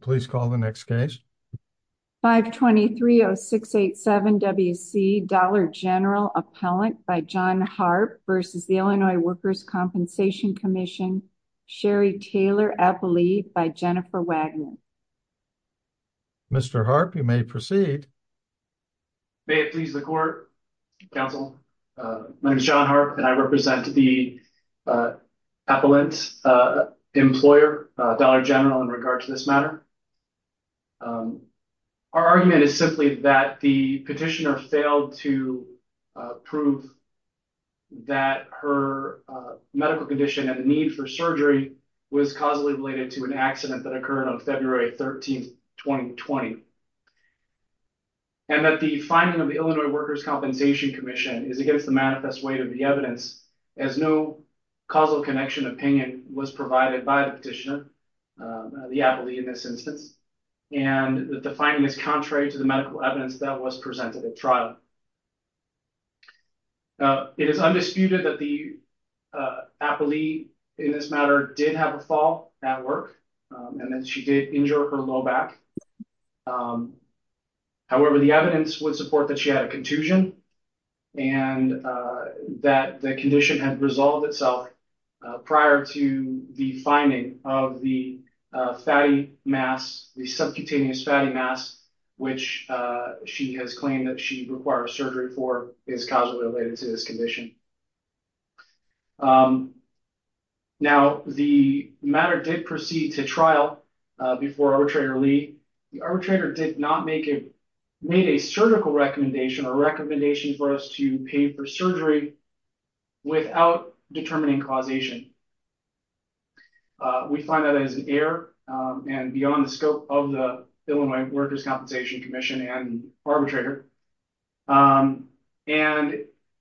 Please call the next case. 523-0687-WC Dollar General Appellant by John Harp v. Illinois Workers' Compensation Comm'n Sherry Taylor Appellee by Jennifer Wagner Mr. Harp, you may proceed. May it please the court, counsel. My name is John Harp and I represent the matter. Our argument is simply that the petitioner failed to prove that her medical condition and the need for surgery was causally related to an accident that occurred on February 13, 2020. And that the finding of the Illinois Workers' Compensation Comm'n is against the manifest weight of the evidence as no causal connection opinion was provided by the petitioner, the appellee in this instance. And that the finding is contrary to the medical evidence that was presented at trial. It is undisputed that the appellee in this matter did have a fall at work and that she did injure her low back. However, the evidence would support that she had a contusion and that the condition had resolved itself prior to the finding of the fatty mass, the subcutaneous fatty mass, which she has claimed that she requires surgery for is causally related to this condition. Now, the matter did proceed to trial before arbitrator Lee. The arbitrator did not make a surgical recommendation or recommendation for us to and beyond the scope of the Illinois Workers' Compensation Commission and arbitrator. And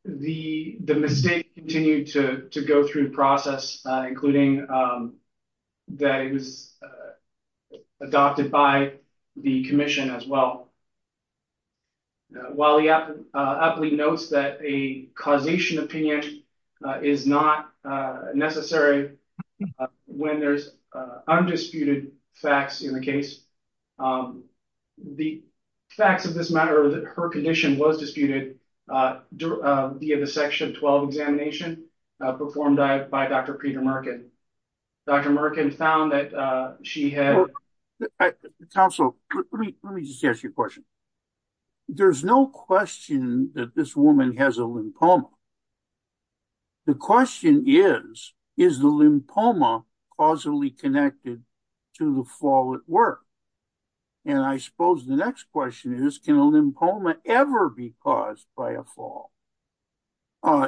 the mistake continued to go through the process, including that it was adopted by the commission as well. While the appellee notes that a causation opinion is not necessary when there's undisputed facts in the case, the facts of this matter, her condition was disputed via the section 12 examination performed by Dr. Peter Merkin. Dr. Merkin found that she had... Counsel, let me just ask you a question. There's no question that this woman has a lymphoma. The question is, is the lymphoma causally connected to the fall at work? And I suppose the next question is, can a lymphoma ever be caused by a fall?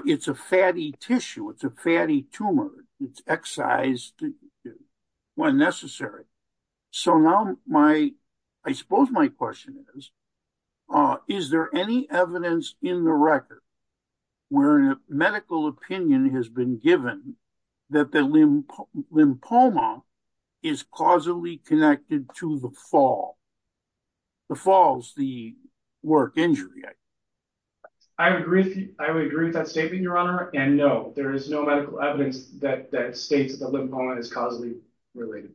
It's a fatty tissue. It's a fatty tumor. It's excised when necessary. So now my, I suppose my question is, is there any evidence in the record where a medical opinion has been given that the lymphoma is causally connected to the fall, the falls, the work injury? I agree. I would agree with that statement, Your Honor. And no, there is no medical evidence that states that the lymphoma is causally related.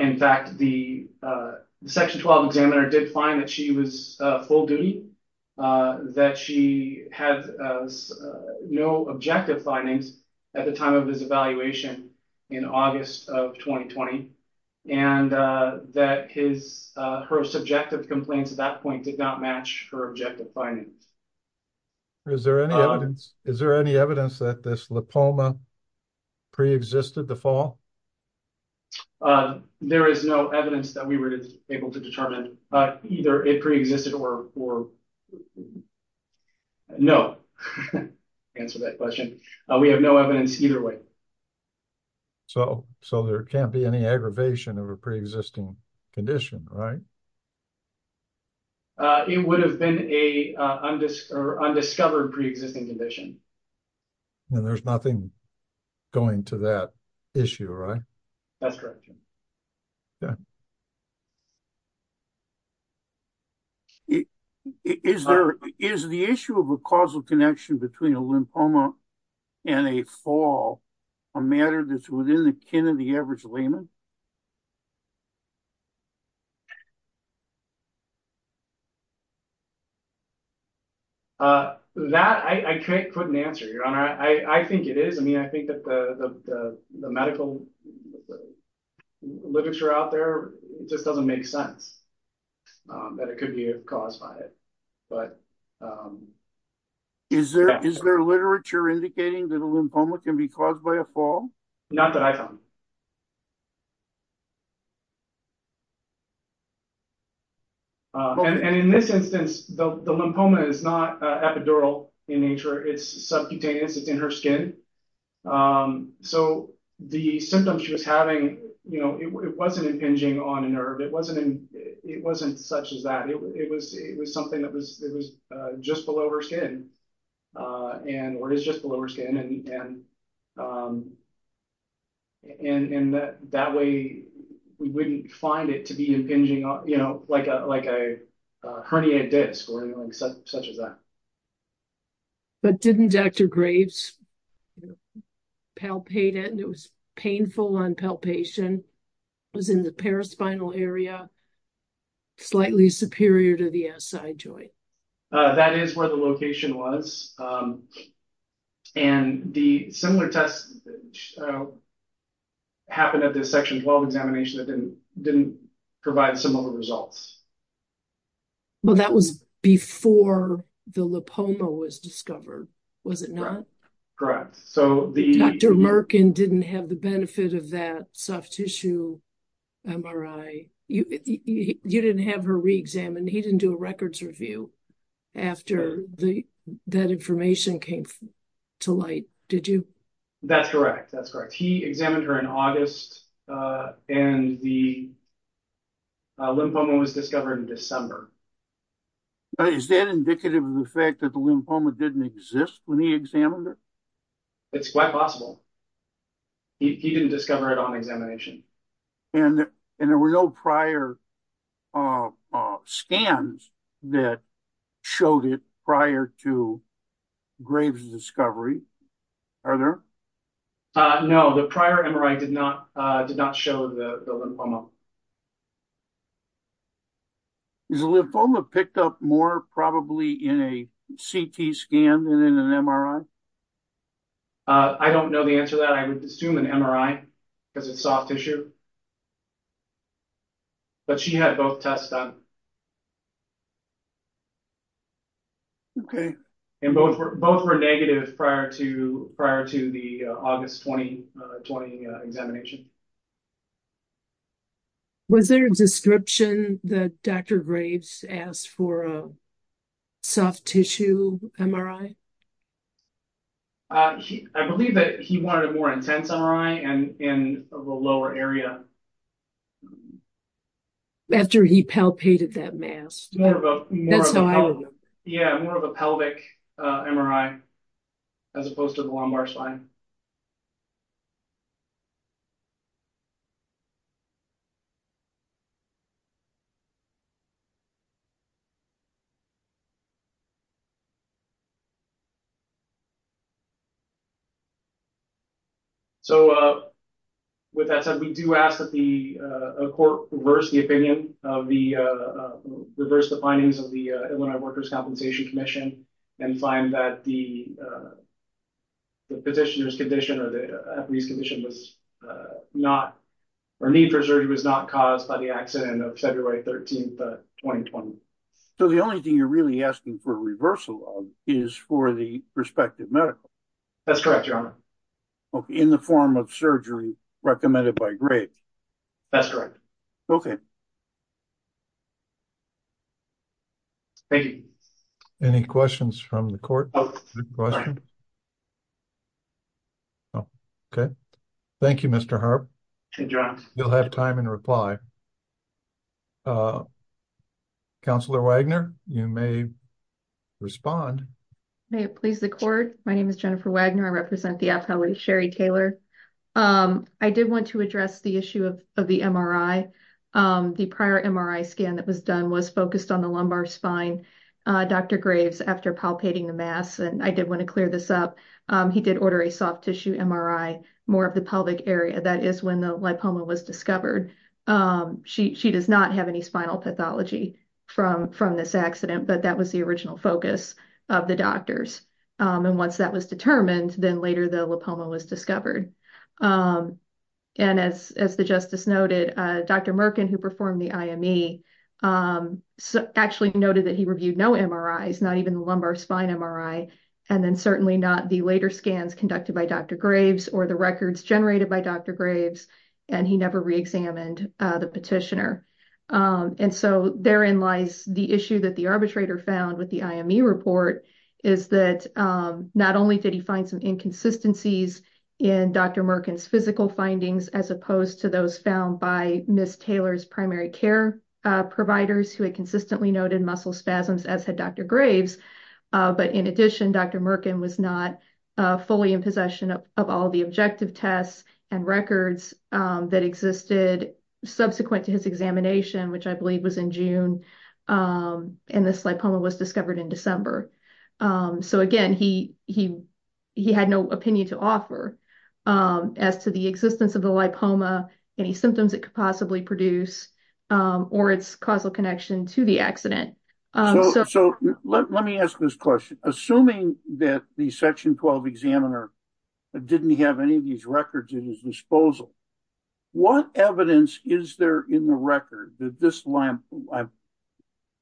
In fact, the section 12 examiner did find that she was full duty, that she had no objective findings at the time of his evaluation in August of 2020, and that his, her subjective complaints at that point did not match her objective findings. Is there any evidence, is there any evidence that this lymphoma pre-existed the fall? There is no evidence that we were able to determine either it pre-existed or no. Answer that question. We have no evidence either way. So, so there can't be any aggravation of a pre-existing condition, right? It would have been a undiscovered pre-existing condition. And there's nothing going to that issue, right? That's correct. Is there, is the issue of a causal connection between a lymphoma and a fall a matter that's within the kin of the average layman? Uh, that I, I can't put an answer, Your Honor. I, I think it is. I mean, I think that the, the, the medical literature out there just doesn't make sense, um, that it could be caused by it. But, um, is there, is there literature indicating that a lymphoma can be caused by a fall? Not that I found. Um, and, and in this instance, the, the lymphoma is not, uh, epidural in nature. It's subcutaneous. It's in her skin. Um, so the symptoms she was having, you know, it wasn't impinging on a nerve. It wasn't in, it wasn't such as that. It was, it was something that was, it was, uh, just below her skin, uh, and, or it is just below her skin. And, um, and, and that, that way we wouldn't find it to be impinging on, you know, like a, like a, a herniated disc or anything such as that. But didn't Dr. Graves palpate it? And it was painful on palpation, was in the paraspinal area, slightly superior to the SI joint. Uh, that is where the location was. Um, and the similar tests, uh, happened at this section 12 examination that didn't, didn't provide similar results. Well, that was before the lymphoma was discovered, was it not? Correct. So the... Dr. Merkin didn't have the benefit of that soft tissue MRI. You, you didn't have her re-examined. He didn't do a records review after the, that information came to light, did you? That's correct. That's correct. He examined her in August, uh, and the lymphoma was discovered in December. Is that indicative of the fact that the lymphoma didn't exist when he examined her? It's quite possible. He, he didn't discover it on examination. And, and there were no prior, uh, scans that showed it prior to Graves' discovery, are there? Uh, no, the prior MRI did not, uh, did not show the lymphoma. Is the lymphoma picked up more probably in a CT scan than in an MRI? Uh, I don't know the answer to that. I would assume an MRI because it's soft tissue. But she had both tests done. Okay. And both were, both were negative prior to, prior to the August 2020 examination. Was there a description that Dr. Graves asked for a soft tissue MRI? Uh, he, I believe that he wanted a more intense MRI and in the lower area. After he palpated that mass. Yeah, more of a pelvic, uh, MRI as opposed to the lumbar spine. So, uh, with that said, we do ask that the, uh, court reverse the opinion of the, uh, reverse the findings of the, uh, Illinois Workers' Compensation Commission and find that the, uh, the petitioner's condition or the, uh, police condition was, uh, not, or need for surgery was not caused by the accident of February 13th, uh, 2020. So the only thing you're really asking for reversal of is for the respective medical. That's correct, your honor. Okay. In the form of surgery recommended by Graves. That's correct. Okay. Thank you. Any questions from the court? Oh, okay. Thank you, Mr. Harp. Good job. You'll have time in reply. Uh, counselor Wagner, you may respond. May it please the court. My name is Jennifer Wagner. I represent the appellate Sherry Taylor. Um, I did want to address the issue of, of the MRI. Um, the prior MRI scan that was done was focused on the lumbar spine, uh, Dr. Graves after palpating the mass. And I did want to clear this up. Um, he did order a soft tissue MRI, more of the pelvic area. That is when the lipoma was discovered. Um, she, she does not have any spinal pathology from, from this accident, but that was the original focus of the doctors. Um, and once that was determined, then later the lipoma was discovered. Um, and as, as the justice noted, uh, Dr. Merkin who performed the IME, um, actually noted that he reviewed no MRIs, not even the lumbar spine MRI. And then certainly not the later scans conducted by Dr. Graves or the records examined, uh, the petitioner. Um, and so therein lies the issue that the arbitrator found with the IME report is that, um, not only did he find some inconsistencies in Dr. Merkin's physical findings, as opposed to those found by Ms. Taylor's primary care, uh, providers who had consistently noted muscle spasms as had Dr. Graves, uh, but in addition, Dr. Merkin was not, uh, fully in possession of all the objective tests and records, um, that existed subsequent to his examination, which I believe was in June. Um, and this lipoma was discovered in December. Um, so again, he, he, he had no opinion to offer, um, as to the existence of the lipoma, any symptoms it could possibly produce, um, or its causal connection to the accident. So let me ask this question, assuming that the section 12 examiner didn't have any of What evidence is there in the record that this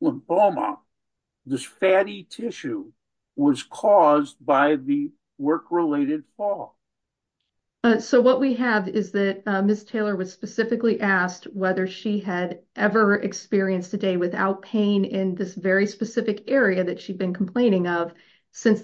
lymphoma, this fatty tissue was caused by the work-related fall? So what we have is that Ms. Taylor was specifically asked whether she had ever experienced a day without pain in this very specific area that she'd been complaining of since the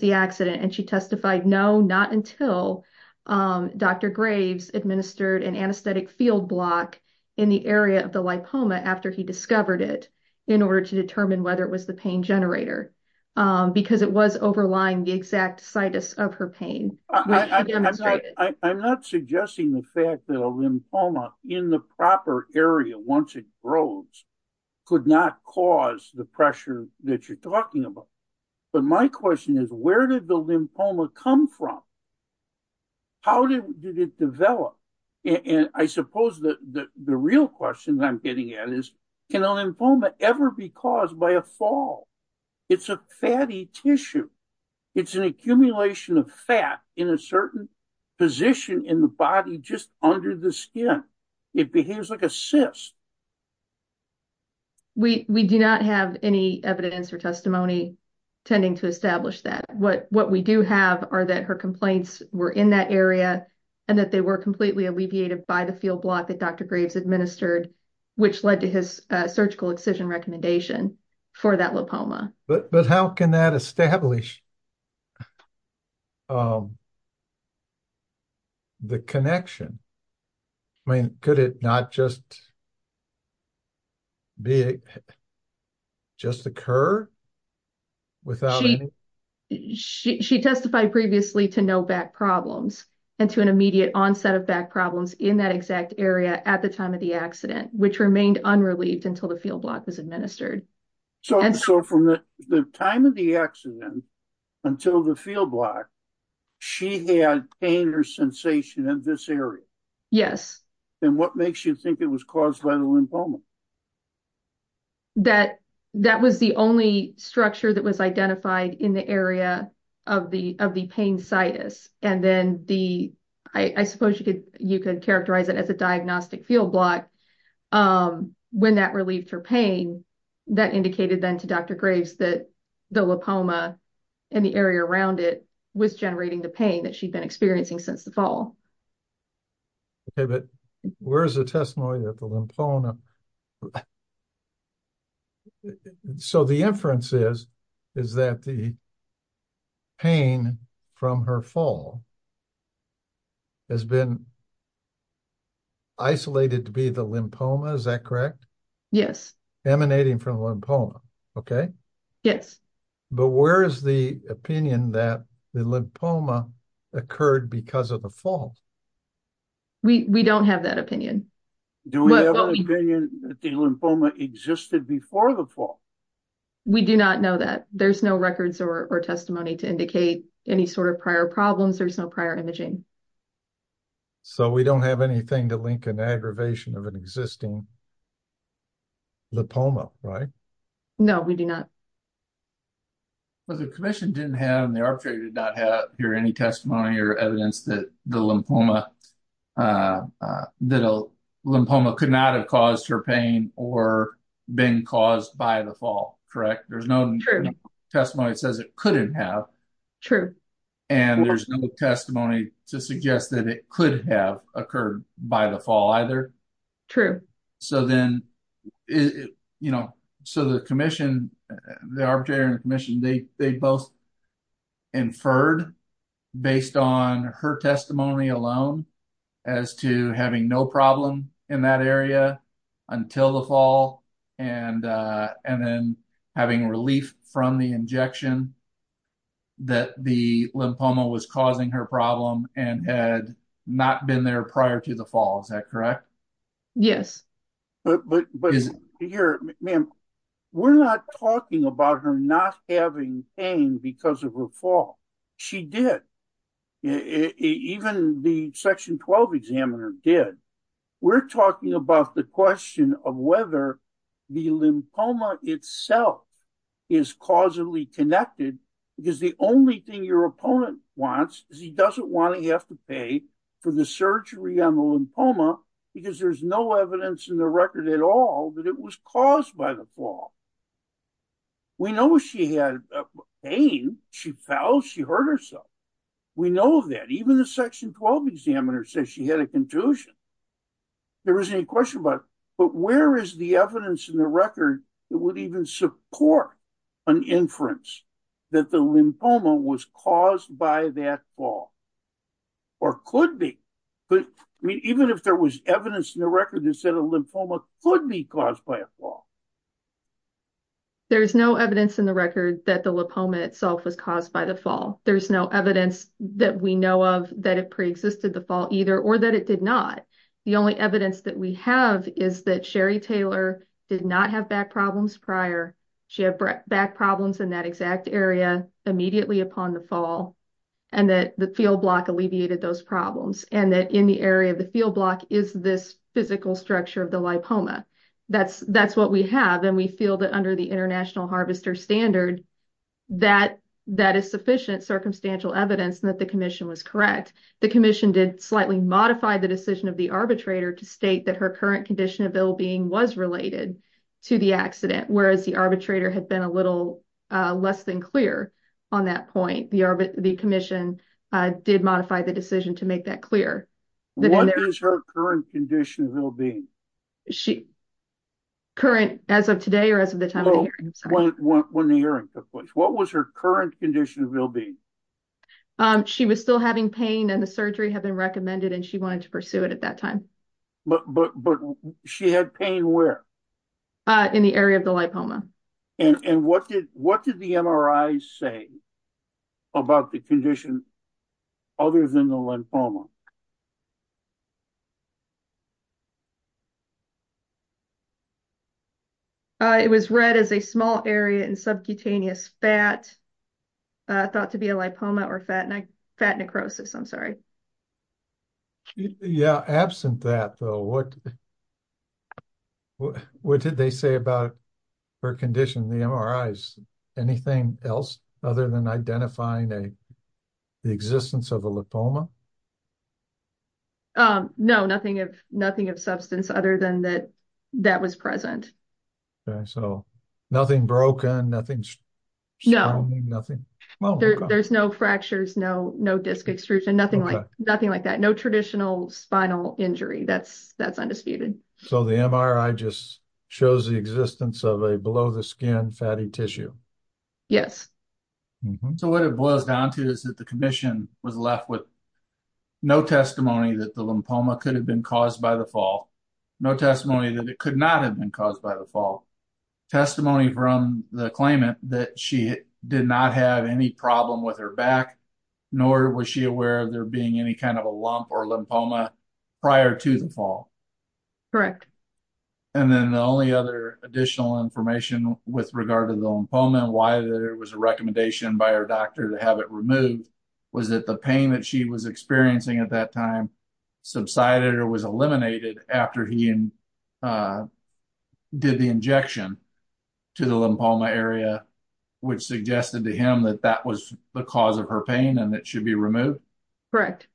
field block in the area of the lipoma after he discovered it in order to determine whether it was the pain generator, um, because it was overlying the exact situs of her pain. I'm not suggesting the fact that a lymphoma in the proper area, once it grows, could not cause the pressure that you're talking about. But my question is, where did the lymphoma come from? How did it develop? And I suppose that the real question I'm getting at is, can a lymphoma ever be caused by a fall? It's a fatty tissue. It's an accumulation of fat in a certain position in the body, just under the skin. It behaves like a cyst. We, we do not have any evidence or testimony tending to establish that. What we do have are that her complaints were in that area, and that they were completely alleviated by the field block that Dr. Graves administered, which led to his surgical excision recommendation for that lymphoma. But how can that establish, um, the connection? I mean, could it not just be, just occur without? She testified previously to no back problems and to an immediate onset of back problems in that exact area at the time of the accident, which remained unrelieved until the field block was administered. So from the time of the accident until the field block, she had pain or sensation in this area? Yes. And what makes you think it was caused by the lymphoma? That, that was the only structure that was identified in the area of the, of the pain situs. And then the, I suppose you could, you could characterize it as a diagnostic field block. Um, when that relieved her pain, that indicated then to Dr. Graves that the lymphoma and the area around it was generating the pain that she'd been experiencing since the fall. Okay, but where's the testimony that the lymphoma, so the inference is, is that the pain from her fall has been isolated to be the lymphoma, is that correct? Yes. Emanating from the lymphoma. Okay. Yes. But where is the opinion that the lymphoma occurred because of the fall? We, we don't have that opinion. Do we have an opinion that the lymphoma existed before the fall? We do not know that. There's no records or testimony to indicate any sort of prior problems. There's no prior imaging. So we don't have anything to link an aggravation of an existing lymphoma, right? No, we do not. But the commission didn't have, and the arbitrator did not have here, any testimony or evidence that the lymphoma, uh, uh, that a lymphoma could not have caused her pain or been caused by the fall, correct? There's no testimony that says it couldn't have. True. And there's no testimony to suggest that it could have occurred by the fall either. True. So then, you know, so the commission, the arbitrator and the commission, they, they both inferred based on her testimony alone as to having no problem in that area until the fall and, uh, and then having relief from the injection that the lymphoma was causing her problem and had not been there prior to the fall. Is that correct? Yes. But, but, but here, ma'am, we're not talking about her not having pain because of her fall. She did. Even the section 12 examiner did. We're talking about the question of whether the lymphoma itself is causally connected because the only thing your opponent wants is he doesn't want to have to pay for the surgery on the lymphoma because there's no evidence in the record at all that it was caused by the fall. We know she had pain. She fell. She hurt herself. We know that even the section 12 examiner says she had a contusion. There isn't a question about, but where is the evidence in the record that would even support an inference that the lymphoma was caused by that fall? Or could be. Even if there was evidence in the record that said a lymphoma could be caused by a fall. There's no evidence in the record that the lymphoma itself was caused by the fall. There's no evidence that we know of that it preexisted the fall either or that it did not. The only evidence that we have is that Sherry Taylor did not have back problems prior. She had back problems in that exact area immediately upon the fall. And that the field block alleviated those problems. And that in the area of the field block is this physical structure of the lymphoma. That's what we have. And we feel that under the international harvester standard, that is sufficient circumstantial evidence that the commission was correct. The commission did slightly modify the decision of the arbitrator to state that her current condition of ill being was related to the accident. Whereas the arbitrator had been a little less than clear on that point. The commission did modify the decision to make that clear. What is her current condition of ill being? Current as of today or as of the time of the hearing? When the hearing took place. What was her current condition of ill being? She was still having pain and the surgery had been recommended and she wanted to pursue it at that time. But she had pain where? In the area of the lymphoma. And what did the MRI say? About the condition other than the lymphoma? It was read as a small area in subcutaneous fat. Thought to be a lipoma or fat necrosis. I'm sorry. Yeah. Absent that though, what did they say about her condition? The MRIs, anything else other than identifying the existence of a lymphoma? No, nothing of substance other than that was present. Okay, so nothing broken, nothing? No. There's no fractures, no disc extrusion, nothing like that. No traditional spinal injury, that's undisputed. So the MRI just shows the existence of a below the skin fatty tissue? Yes. So what it boils down to is that the commission was left with no testimony that the lymphoma could have been caused by the fall. No testimony that it could not have been caused by the fall. Testimony from the claimant that she did not have any problem with her back, nor was she aware of there being any kind of a lump or lymphoma prior to the fall. Correct. And then the only other additional information with regard to the lymphoma and why there was a recommendation by her doctor to have it removed was that the pain that she was experiencing at that time subsided or was eliminated after he did the injection to the lymphoma area, which suggested to him that that was the cause of her pain and it should be removed? Correct.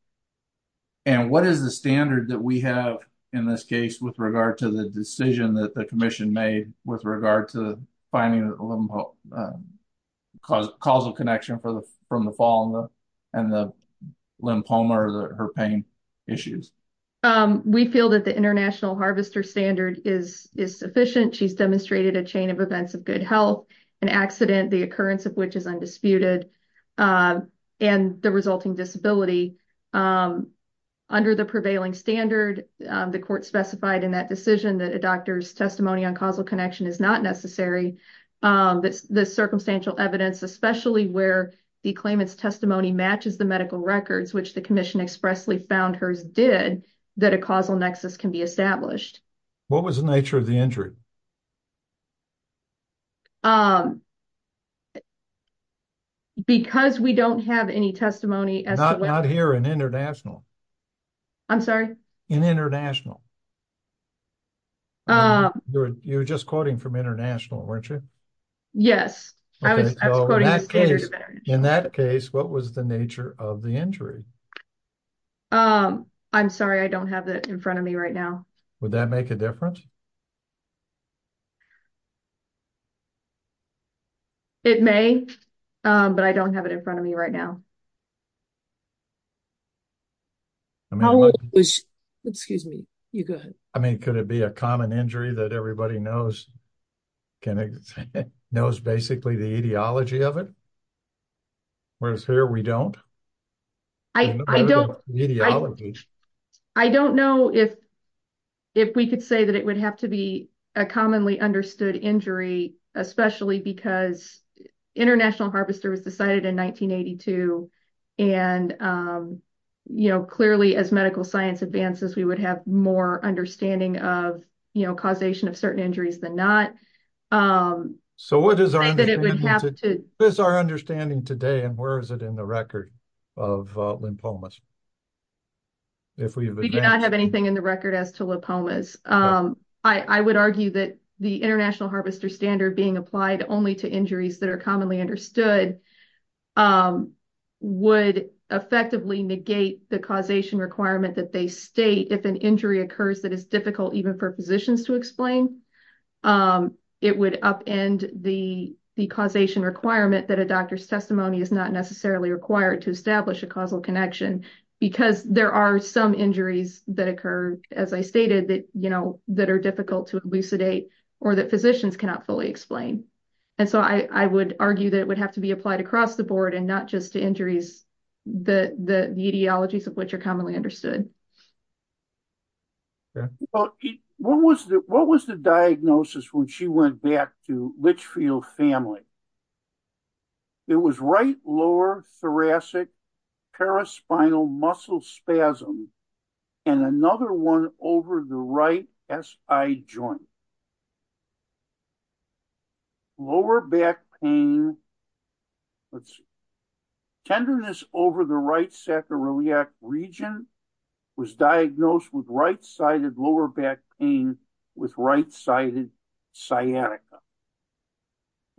And what is the standard that we have in this case with regard to the decision that the commission made with regard to finding a causal connection from the fall and the lymphoma or her pain issues? We feel that the international harvester standard is sufficient. She's demonstrated a chain of events of good health, an accident, the occurrence of which is undisputed, and the resulting disability. Under the prevailing standard, the court specified in that decision that a doctor's testimony on causal connection is not necessary. The circumstantial evidence, especially where the claimant's testimony matches the medical records, which the commission expressly found hers did, that a causal nexus can be established. What was the nature of the injury? Because we don't have any testimony. Not here in international. I'm sorry? In international. You were just quoting from international, weren't you? Yes. In that case, what was the nature of the injury? I'm sorry, I don't have that in front of me right now. Would that make a difference? It may. But I don't have it in front of me right now. Excuse me. You go ahead. I mean, could it be a common injury that everybody knows? Knows basically the ideology of it? Whereas here we don't? I don't know if we could say that it would have to be a commonly understood injury, especially because international harvester was decided in 1982, and clearly as medical science advances, we would have more understanding of causation of certain injuries than not. So what is our understanding today, and where is it in the record of lymphomas? We do not have anything in the record as to lymphomas. I would argue that the international harvester standard being applied only to injuries that are commonly understood would effectively negate the causation requirement that they state if an injury occurs that is difficult even for physicians to explain. It would upend the causation requirement that a doctor's testimony is not necessarily required to establish a causal connection because there are some injuries that occur, as I stated, that are difficult to elucidate or that physicians cannot fully explain. And so I would argue that it would have to be applied across the board and not just to injuries, the ideologies of which are commonly understood. What was the diagnosis when she went back to Litchfield family? It was right lower thoracic paraspinal muscle spasm and another one over the right SI joint. Lower back pain, let's see, tenderness over the right sacroiliac region was diagnosed with right with right-sided sciatica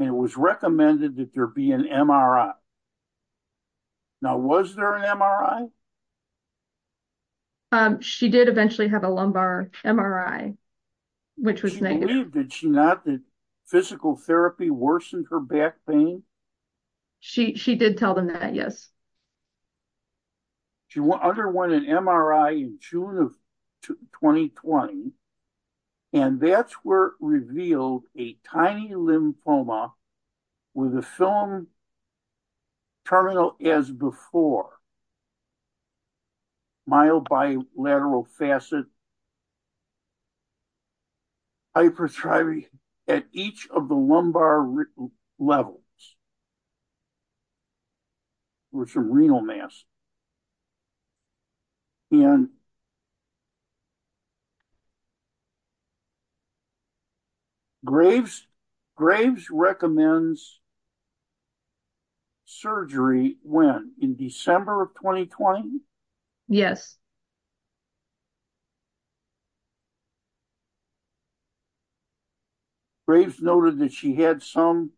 and it was recommended that there be an MRI. Now was there an MRI? She did eventually have a lumbar MRI, which was negative. Did she not that physical therapy worsened her back pain? She did tell them that, yes. She underwent an MRI in June of 2020 and that's where it revealed a tiny lymphoma with a film terminal as before, mild bilateral facet hypertrophy at each of the lumbar levels. There was some renal mass. And Graves recommends surgery when, in December of 2020? Yes. Graves noted that she had some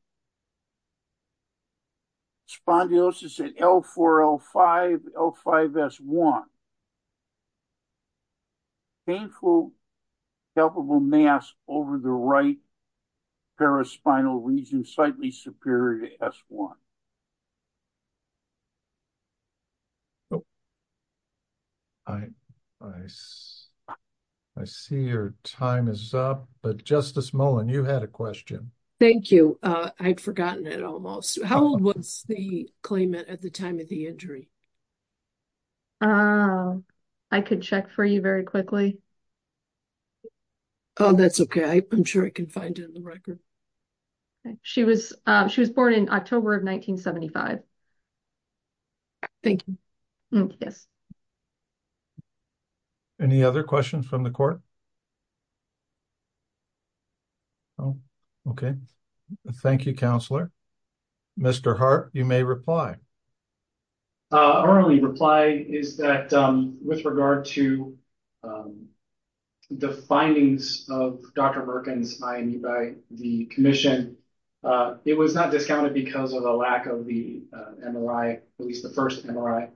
spondylosis at L4, L5, L5, S1. Painful palpable mass over the right paraspinal region, slightly superior to S1. I see your time is up, but Justice Mullen, you had a question. Thank you. I'd forgotten it almost. How old was the claimant at the time of the injury? I could check for you very quickly. Oh, that's okay. I'm sure I can find it in the record. She was born in October of 1975. Thank you. Yes. Any other questions from the court? Oh, okay. Thank you, Counselor. Mr. Hart, you may reply. Our only reply is that with regard to the findings of Dr. Merkin's IME by the commission, it was not discounted because of the lack of the MRI, at least the first MRI.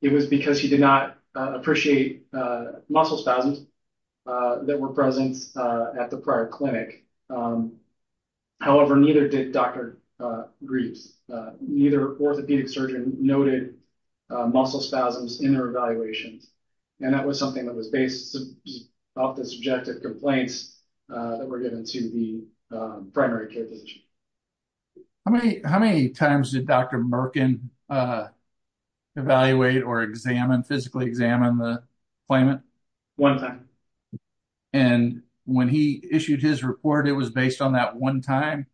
It was because he did not appreciate muscle spasms that were present at the prior clinic. However, neither did Dr. Graves. Neither orthopedic surgeon noted muscle spasms in their evaluations, and that was something that was based off the subjective complaints that were given to the primary care physician. How many times did Dr. Merkin evaluate or physically examine the claimant? One time. And when he issued his report, it was based on that one time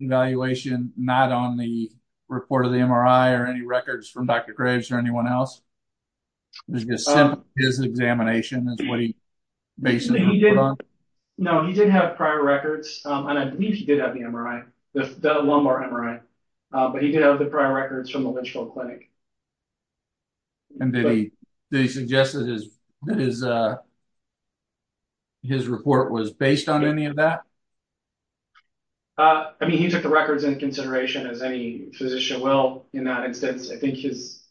evaluation, not on the report of the MRI or any records from Dr. Graves or anyone else? His examination is what he based his report on? No, he did have prior records, and I believe he did have the MRI, the lumbar MRI, but he did have the prior records from the Lynchville Clinic. And did he suggest that his report was based on any of that? I mean, he took the records into consideration, as any physician will in that instance. I think his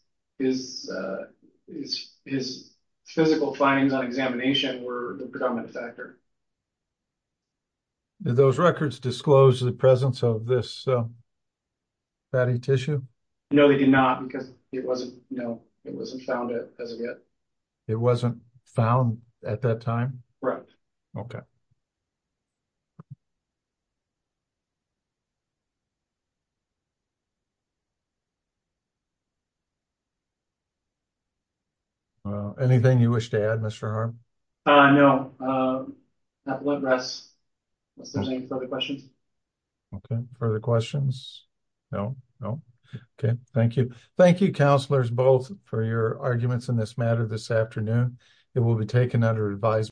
physical findings on examination were the predominant factor. Did those records disclose the presence of this fatty tissue? No, they did not, because it wasn't, you know, it wasn't found as of yet. It wasn't found at that time? Right. Anything you wish to add, Mr. Harm? No, that will address some of the questions. Okay, further questions? No, no. Okay, thank you. Thank you, counselors, both, for your advice.